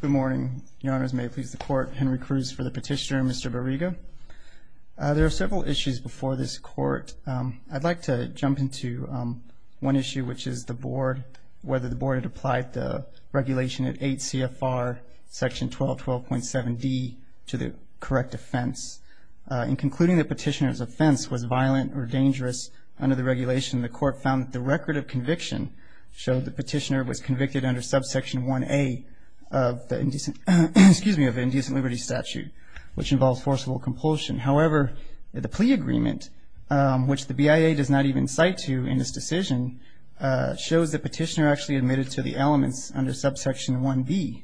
Good morning. Your Honors, may it please the Court, Henry Cruz for the Petitioner, Mr. Barriga. There are several issues before this Court. I'd like to jump into one issue, which is the Board, whether the Board had applied the regulation at 8 CFR section 1212.7d to the correct offense. In concluding the Petitioner's offense was violent or dangerous under the regulation, the Court found that the record of conviction showed the Petitioner was convicted under subsection 1A of the Indecent, excuse me, of the Indecent Liberty Statute, which involves forcible compulsion. However, the plea agreement, which the BIA does not even cite to in this decision, shows the Petitioner actually admitted to the elements under subsection 1B.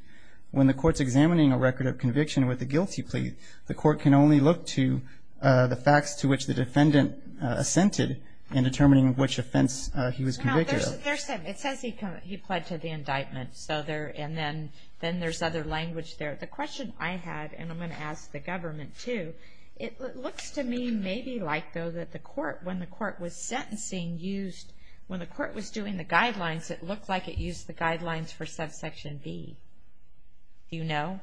When the Court's examining a record of conviction with a guilty plea, the Court can only look to the facts to which the defendant assented in determining which offense he was convicted of. It says he pled to the indictment, and then there's other language there. The question I had, and I'm going to ask the Government, too, it looks to me maybe like, though, that when the Court was doing the guidelines, it looked like it used the guidelines for subsection B. Do you know?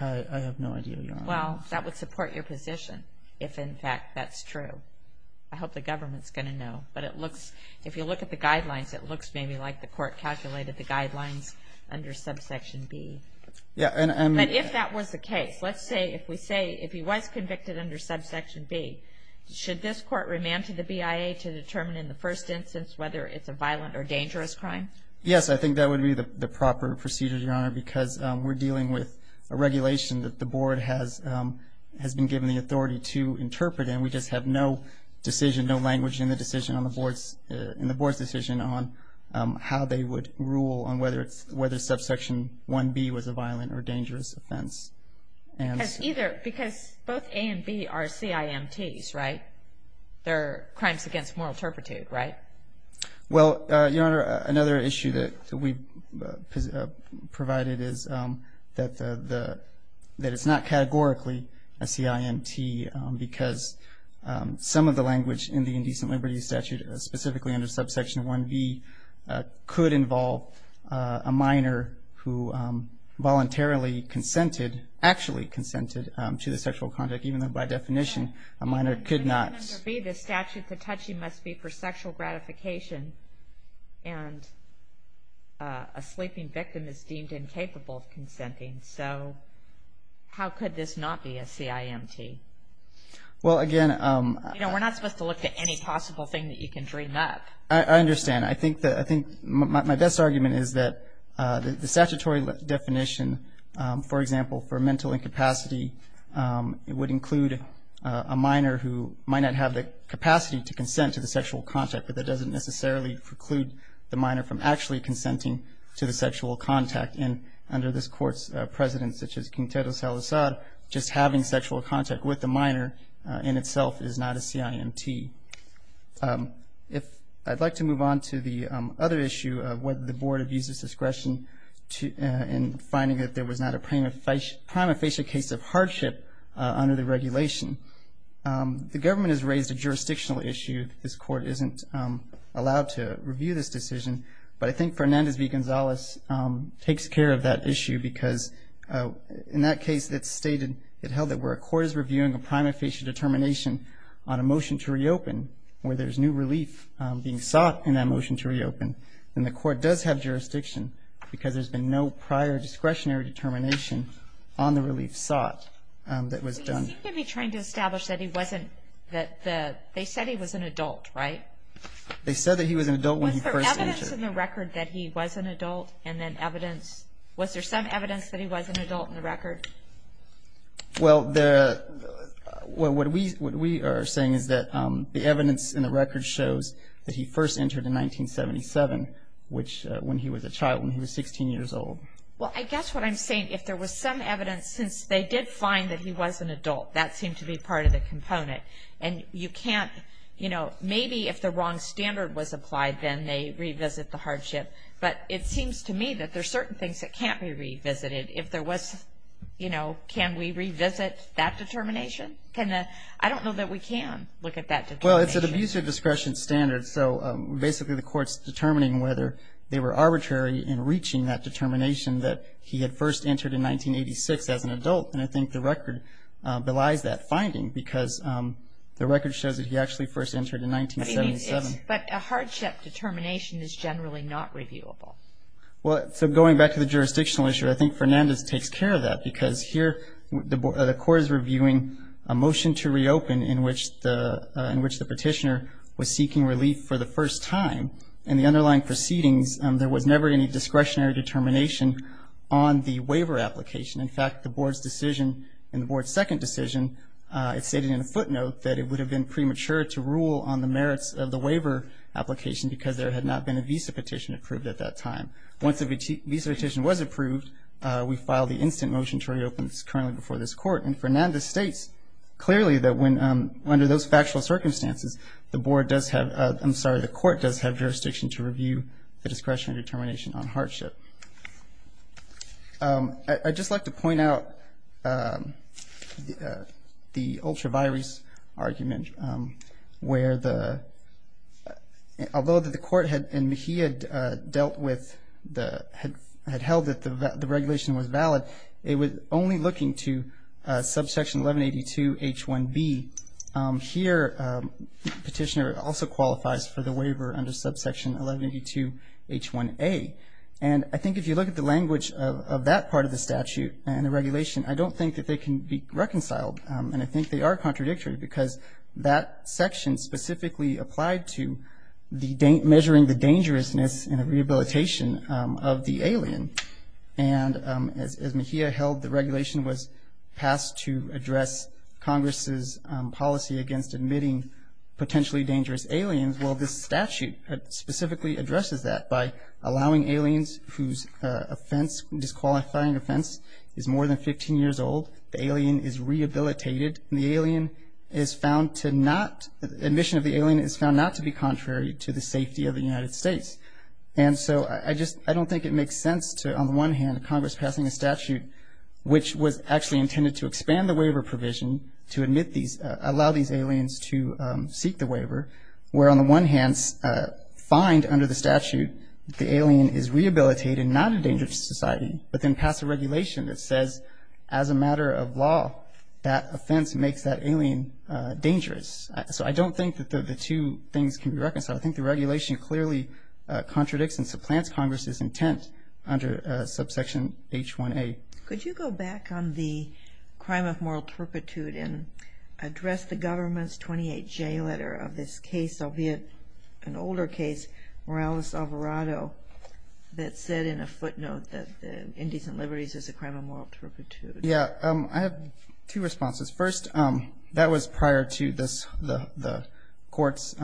I have no idea, Your Honor. Well, that would support your position if, in fact, that's true. I hope the Government's going to know. But it looks, if you look at the guidelines, it looks maybe like the Court calculated the guidelines under subsection B. But if that was the case, let's say if we say if he was convicted under subsection B, should this Court remand to the BIA to determine in the first instance whether it's a violent or dangerous crime? Yes, I think that would be the proper procedure, Your Honor, because we're dealing with a regulation that the Board has been given the authority to interpret, and we just have no decision, no language in the Board's decision on how they would rule on whether subsection 1B was a violent or dangerous offense. Because both A and B are CIMTs, right? They're crimes against moral turpitude, right? Well, Your Honor, another issue that we provided is that it's not categorically a CIMT because some of the language in the Indecent Liberties Statute, specifically under subsection 1B, could involve a minor who voluntarily consented, actually consented, to the sexual conduct, even though by definition a minor could not. Under subsection 1B, the statute to touch you must be for sexual gratification, and a sleeping victim is deemed incapable of consenting, so how could this not be a CIMT? Well, again— You know, we're not supposed to look at any possible thing that you can dream up. I understand. I think my best argument is that the statutory definition, for example, for mental incapacity, it would include a minor who might not have the capacity to consent to the sexual contact, but that doesn't necessarily preclude the minor from actually consenting to the sexual contact. And under this Court's precedent, such as Quintero Salazar, just having sexual contact with the minor in itself is not a CIMT. I'd like to move on to the other issue of whether the Board abuses discretion in finding that there was not a prima facie case of hardship under the regulation. The government has raised a jurisdictional issue. This Court isn't allowed to review this decision, but I think Fernandez v. Gonzales takes care of that issue because in that case it's stated, it held that where a court is reviewing a prima facie determination on a motion to reopen, where there's new relief being sought in that motion to reopen, then the court does have jurisdiction because there's been no prior discretionary determination on the relief sought that was done. But you seem to be trying to establish that he wasn't, that the, they said he was an adult, right? They said that he was an adult when he first entered. Was there evidence in the record that he was an adult? And then evidence, was there some evidence that he was an adult in the record? Well, the, what we are saying is that the evidence in the record shows that he first entered in 1977, which when he was a child, when he was 16 years old. Well, I guess what I'm saying, if there was some evidence since they did find that he was an adult, that seemed to be part of the component. And you can't, you know, maybe if the wrong standard was applied, then they revisit the hardship. But it seems to me that there's certain things that can't be revisited. If there was, you know, can we revisit that determination? Can the, I don't know that we can look at that determination. Well, it's an abusive discretion standard. So basically the court's determining whether they were arbitrary in reaching that determination that he had first entered in 1986 as an adult. And I think the record belies that finding because the record shows that he actually first entered in 1977. But a hardship determination is generally not reviewable. Well, so going back to the jurisdictional issue, I think Fernandez takes care of that because here the court is reviewing a motion to reopen in which the petitioner was seeking relief for the first time. In the underlying proceedings, there was never any discretionary determination on the waiver application. In fact, the board's decision, in the board's second decision, it stated in a footnote that it would have been premature to rule on the merits of the waiver application because there had not been a visa petition approved at that time. Once the visa petition was approved, we filed the instant motion to reopen this currently before this court. And Fernandez states clearly that when under those factual circumstances, the board does have, I'm sorry, the court does have jurisdiction to review the discretionary determination on hardship. I'd just like to point out the ultra virus argument where the, although the court had, and he had dealt with the, had held that the regulation was valid. It was only looking to subsection 1182 H1B. Here petitioner also qualifies for the waiver under subsection 1182 H1A. And I think if you look at the language of that part of the statute and the regulation, I don't think that they can be reconciled. And I think they are contradictory because that section specifically applied to the measuring the dangerousness and the rehabilitation of the alien. And as Mejia held, the regulation was passed to address Congress's policy against admitting potentially dangerous aliens. Well, this statute specifically addresses that by allowing aliens whose offense, disqualifying offense is more than 15 years old, the alien is rehabilitated, and the alien is found to not, admission of the alien is found not to be contrary to the safety of the United States. And so I just, I don't think it makes sense to, on the one hand, Congress passing a statute which was actually intended to expand the waiver provision to admit these, allow these aliens to seek the waiver, where on the one hand, find under the statute the alien is rehabilitated, not a dangerous society, but then pass a regulation that says as a matter of law that offense makes that alien dangerous. So I don't think that the two things can be reconciled. I think the regulation clearly contradicts and supplants Congress's intent under subsection H1A. Could you go back on the crime of moral turpitude and address the government's 28J letter of this case, albeit an older case, Morales-Alvarado, that said in a footnote that indecent liberties is a crime of moral turpitude. Yeah, I have two responses. First, that was prior to this, the court's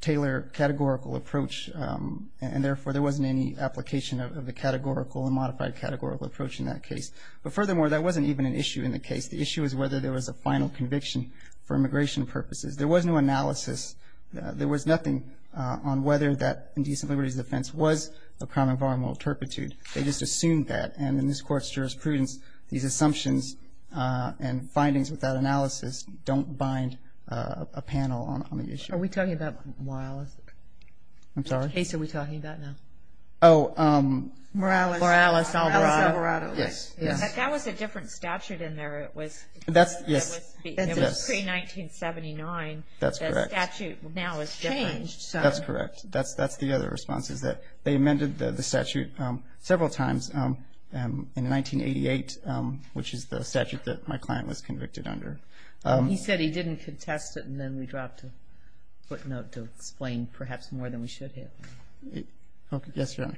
tailored categorical approach, and therefore there wasn't any application of the categorical and modified categorical approach in that case. But furthermore, that wasn't even an issue in the case. The issue was whether there was a final conviction for immigration purposes. There was no analysis. There was nothing on whether that indecent liberties offense was a crime of moral turpitude. They just assumed that. And in this Court's jurisprudence, these assumptions and findings without analysis don't bind a panel on the issue. Are we talking about Morales? I'm sorry? What case are we talking about now? Oh. Morales-Alvarado. Morales-Alvarado. Yes. That was a different statute in there. It was pre-1979. That's correct. The statute now has changed. That's correct. That's the other response, is that they amended the statute several times in 1988, which is the statute that my client was convicted under. He said he didn't contest it, and then we dropped a footnote to explain perhaps more than we should have. Okay. Yes, Your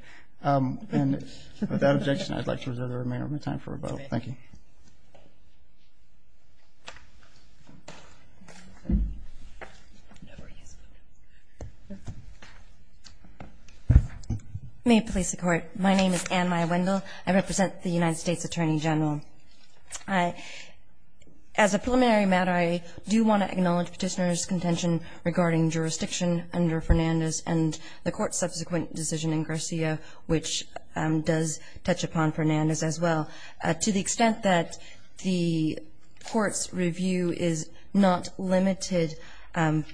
Honor. And without objection, I'd like to reserve the remaining time for rebuttal. Thank you. May it please the Court. My name is Ann Maya Wendell. I represent the United States Attorney General. As a preliminary matter, I do want to acknowledge Petitioner's contention regarding jurisdiction under Fernandez and the Court's subsequent decision in Garcia, which does touch upon Fernandez as well. To the extent that the Court's review is not limited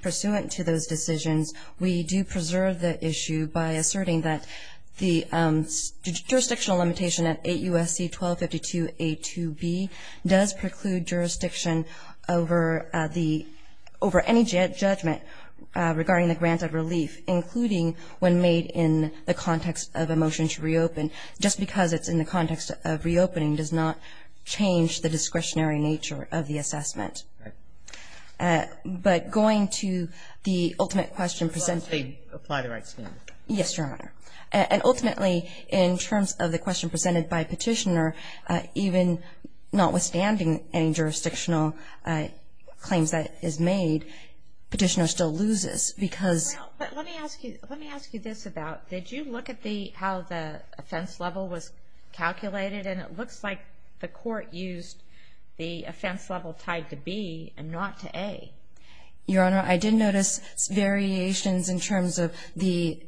pursuant to those decisions, we do preserve the issue by asserting that the jurisdictional limitation at 8 U.S.C. 1252A2B does preclude jurisdiction over any judgment regarding the grant of relief, including when made in the context of a motion to reopen. Just because it's in the context of reopening does not change the discretionary nature of the assessment. Right. But going to the ultimate question presented. Apply the right standard. Yes, Your Honor. And ultimately, in terms of the question presented by Petitioner, even notwithstanding any jurisdictional claims that is made, Petitioner still loses because. Let me ask you this about, did you look at how the offense level was calculated? And it looks like the Court used the offense level tied to B and not to A. Your Honor, I did notice variations in terms of the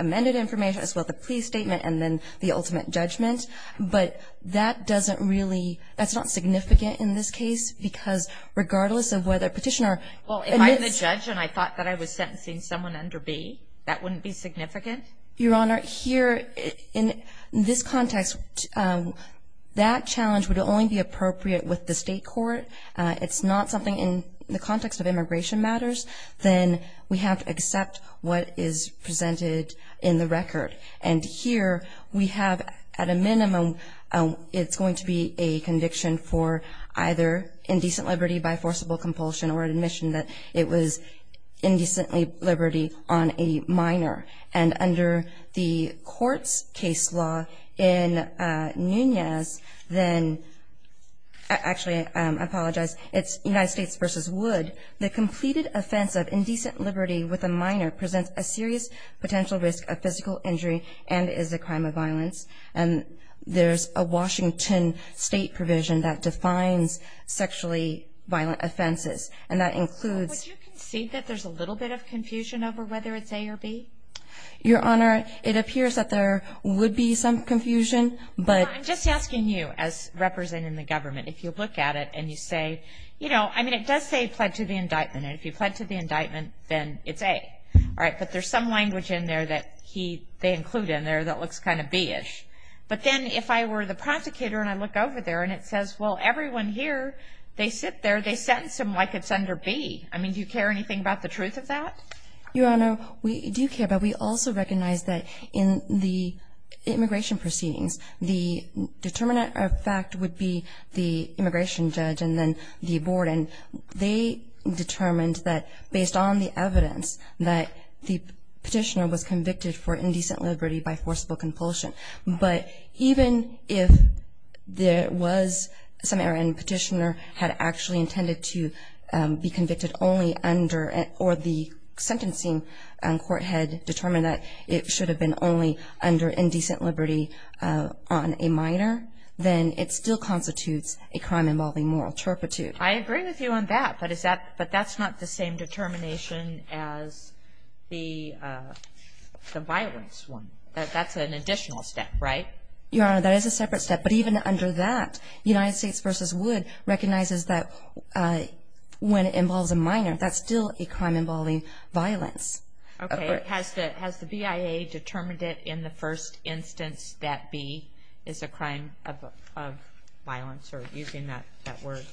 amended information as well as the plea statement and then the ultimate judgment, but that doesn't really, that's not significant in this case because regardless of whether Petitioner admits. Well, if I'm the judge and I thought that I was sentencing someone under B, that wouldn't be significant? Your Honor, here in this context, that challenge would only be appropriate with the state court. It's not something in the context of immigration matters. Then we have to accept what is presented in the record. And here we have at a minimum it's going to be a conviction for either indecent liberty by forcible compulsion or admission that it was indecent liberty on a minor. And under the court's case law in Nunez, then, actually I apologize, it's United States v. Wood, the completed offense of indecent liberty with a minor presents a serious potential risk of physical injury and is a crime of violence. And there's a Washington state provision that defines sexually violent offenses, and that includes. Would you concede that there's a little bit of confusion over whether it's A or B? Your Honor, it appears that there would be some confusion, but. I'm just asking you, as representing the government, if you look at it and you say, you know, I mean it does say pled to the indictment, and if you pled to the indictment, then it's A. All right, but there's some language in there that they include in there that looks kind of B-ish. But then if I were the prosecutor and I look over there and it says, well, everyone here, they sit there, do they sentence them like it's under B? I mean, do you care anything about the truth of that? Your Honor, we do care, but we also recognize that in the immigration proceedings, the determinant of fact would be the immigration judge and then the abortion. They determined that based on the evidence that the petitioner was convicted for indecent liberty by forcible compulsion. But even if there was some error and the petitioner had actually intended to be convicted only under or the sentencing court had determined that it should have been only under indecent liberty on a minor, then it still constitutes a crime involving moral turpitude. I agree with you on that, but that's not the same determination as the violence one. That's an additional step, right? Your Honor, that is a separate step. But even under that, United States v. Wood recognizes that when it involves a minor, that's still a crime involving violence. Okay, has the BIA determined it in the first instance that B is a crime of violence or using that word,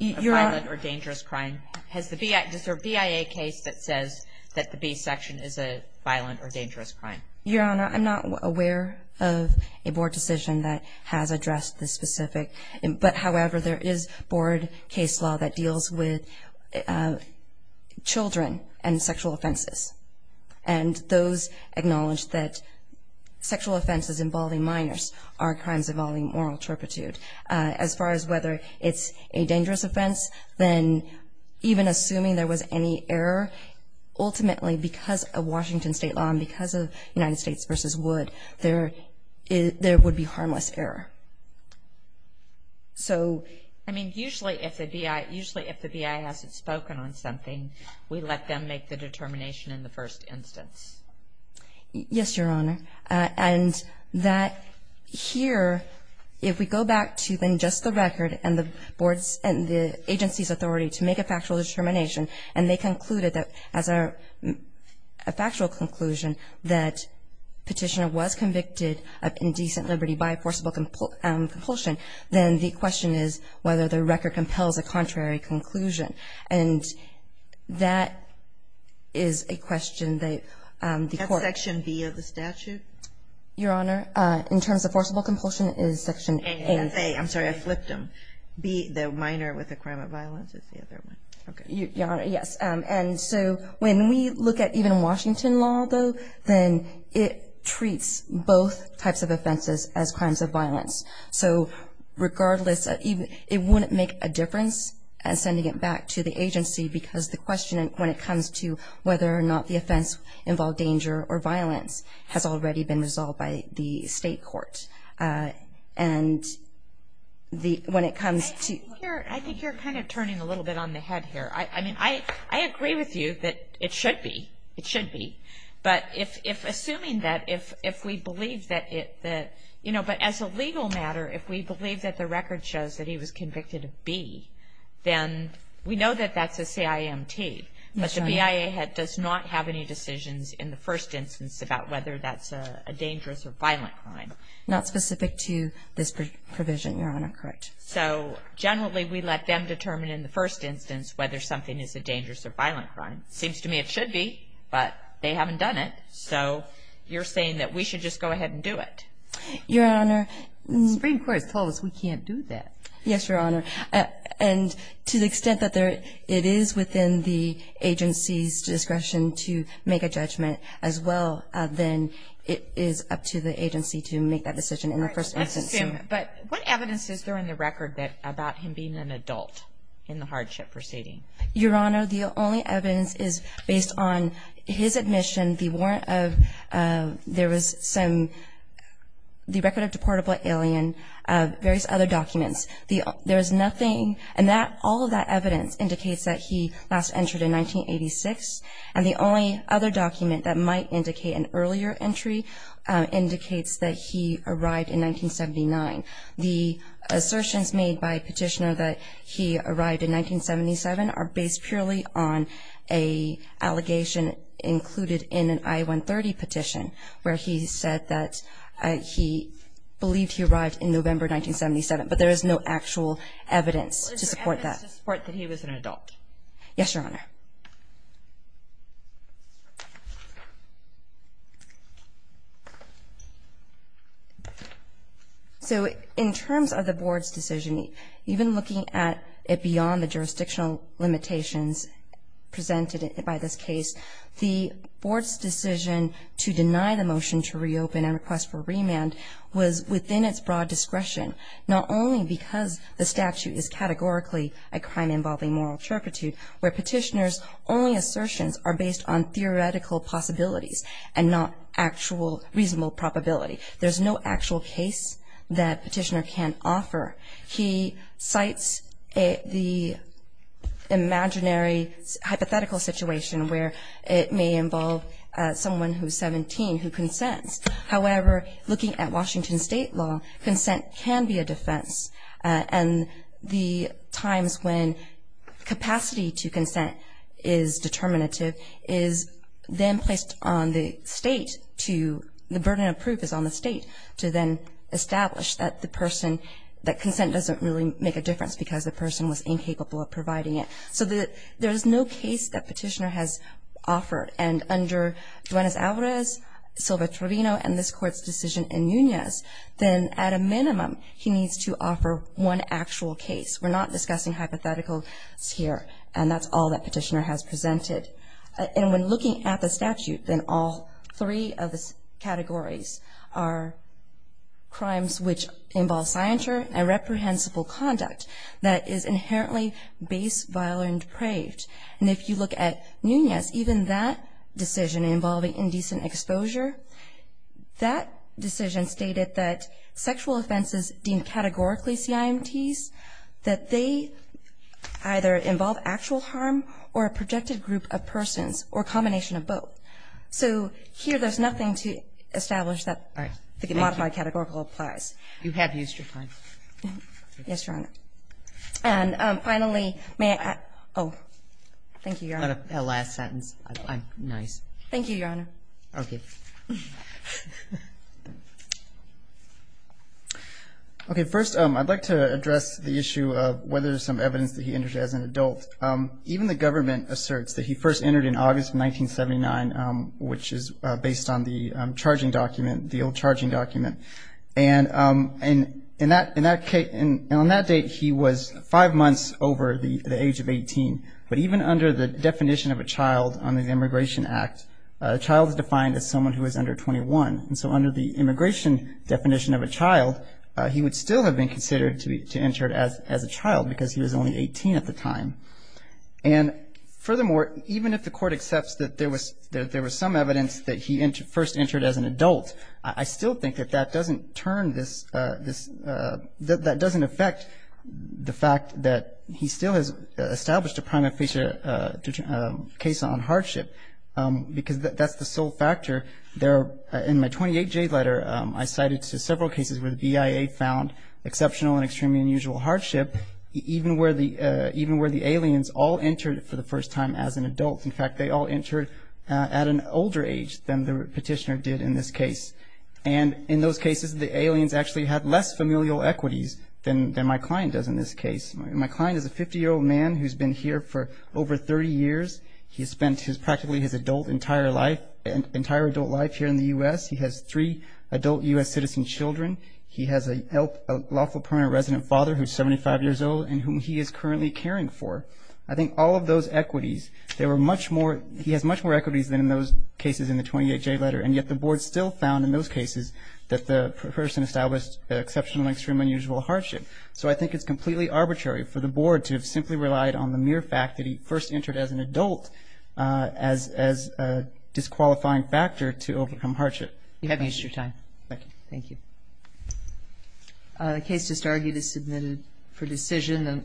a violent or dangerous crime? Is there a BIA case that says that the B section is a violent or dangerous crime? Your Honor, I'm not aware of a board decision that has addressed this specific. But, however, there is board case law that deals with children and sexual offenses. And those acknowledge that sexual offenses involving minors are crimes involving moral turpitude. As far as whether it's a dangerous offense, then even assuming there was any error, ultimately because of Washington state law and because of United States v. Wood, there would be harmless error. So, I mean, usually if the BIA hasn't spoken on something, we let them make the determination in the first instance. Yes, Your Honor. And that here, if we go back to then just the record and the agency's authority to make a factual determination, and they concluded that as a factual conclusion that Petitioner was convicted of indecent liberty by forcible compulsion, then the question is whether the record compels a contrary conclusion. And that is a question that the court. Is Section B of the statute? Your Honor, in terms of forcible compulsion, it is Section A. A, I'm sorry, I flipped them. B, the minor with a crime of violence is the other one. Your Honor, yes. And so when we look at even Washington law, though, then it treats both types of offenses as crimes of violence. So, regardless, it wouldn't make a difference in sending it back to the agency because the question, when it comes to whether or not the offense involved danger or violence, has already been resolved by the state court. And when it comes to- I think you're kind of turning a little bit on the head here. I mean, I agree with you that it should be. It should be. But assuming that if we believe that it, you know, but as a legal matter, if we believe that the record shows that he was convicted of B, then we know that that's a CIMT. Yes, Your Honor. But the BIA does not have any decisions in the first instance about whether that's a dangerous or violent crime. Not specific to this provision, Your Honor. Correct. So, generally, we let them determine in the first instance whether something is a dangerous or violent crime. Seems to me it should be, but they haven't done it. So you're saying that we should just go ahead and do it. Your Honor- The Supreme Court has told us we can't do that. Yes, Your Honor. And to the extent that it is within the agency's discretion to make a judgment as well, then it is up to the agency to make that decision in the first instance. All right. Let's assume. But what evidence is there in the record about him being an adult in the hardship proceeding? Your Honor, the only evidence is based on his admission. And the warrant of- there was some- the record of deportable alien, various other documents. There is nothing- and all of that evidence indicates that he last entered in 1986. And the only other document that might indicate an earlier entry indicates that he arrived in 1979. The assertions made by Petitioner that he arrived in 1977 are based purely on an allegation included in an I-130 petition where he said that he believed he arrived in November 1977. But there is no actual evidence to support that. What is your evidence to support that he was an adult? Yes, Your Honor. So in terms of the Board's decision, even looking at it beyond the jurisdictional limitations presented by this case, the Board's decision to deny the motion to reopen and request for remand was within its broad discretion, not only because the statute is categorically a crime involving moral turpitude, where Petitioner's only assertions are based on theoretical possibilities and not actual reasonable probability. There's no actual case that Petitioner can offer. He cites the imaginary hypothetical situation where it may involve someone who's 17 who consents. However, looking at Washington State law, consent can be a defense. And the times when capacity to consent is determinative is then placed on the state to the burden of proof is on the state to then establish that the person, that consent doesn't really make a difference because the person was incapable of providing it. So there is no case that Petitioner has offered. And under Duenas-Alvarez, Silva-Trevino, and this Court's decision in Nunez, then at a minimum, he needs to offer one actual case. We're not discussing hypotheticals here, and that's all that Petitioner has presented. And when looking at the statute, then all three of the categories are crimes which involve scienture and reprehensible conduct that is inherently base, violent, and depraved. And if you look at Nunez, even that decision involving indecent exposure, that decision stated that sexual offenses deemed categorically CIMTs, that they either involve actual harm or a projected group of persons or a combination of both. So here there's nothing to establish that the modified categorical applies. You have used your time. Yes, Your Honor. And finally, may I? Oh, thank you, Your Honor. Last sentence. Nice. Thank you, Your Honor. Okay. Okay, first I'd like to address the issue of whether there's some evidence that he entered as an adult. Even the government asserts that he first entered in August of 1979, which is based on the charging document, the old charging document. And on that date, he was five months over the age of 18. But even under the definition of a child on the Immigration Act, a child is defined as someone who is under 21. And so under the immigration definition of a child, he would still have been considered to have entered as a child because he was only 18 at the time. And furthermore, even if the Court accepts that there was some evidence that he first entered as an adult, I still think that that doesn't affect the fact that he still has established a prima facie case on hardship because that's the sole factor there. In my 28-J letter, I cited several cases where the BIA found exceptional and extremely unusual hardship, even where the aliens all entered for the first time as an adult. In fact, they all entered at an older age than the petitioner did in this case. And in those cases, the aliens actually had less familial equities than my client does in this case. My client is a 50-year-old man who's been here for over 30 years. He spent practically his adult entire life here in the U.S. He has three adult U.S. citizen children. He has a lawful permanent resident father who's 75 years old and whom he is currently caring for. I think all of those equities, there were much more. He has much more equities than in those cases in the 28-J letter, and yet the Board still found in those cases that the person established exceptional and extreme unusual hardship. So I think it's completely arbitrary for the Board to have simply relied on the mere fact that he first entered as an adult as a disqualifying factor to overcome hardship. You have used your time. Thank you. Thank you. The case just argued is submitted for decision.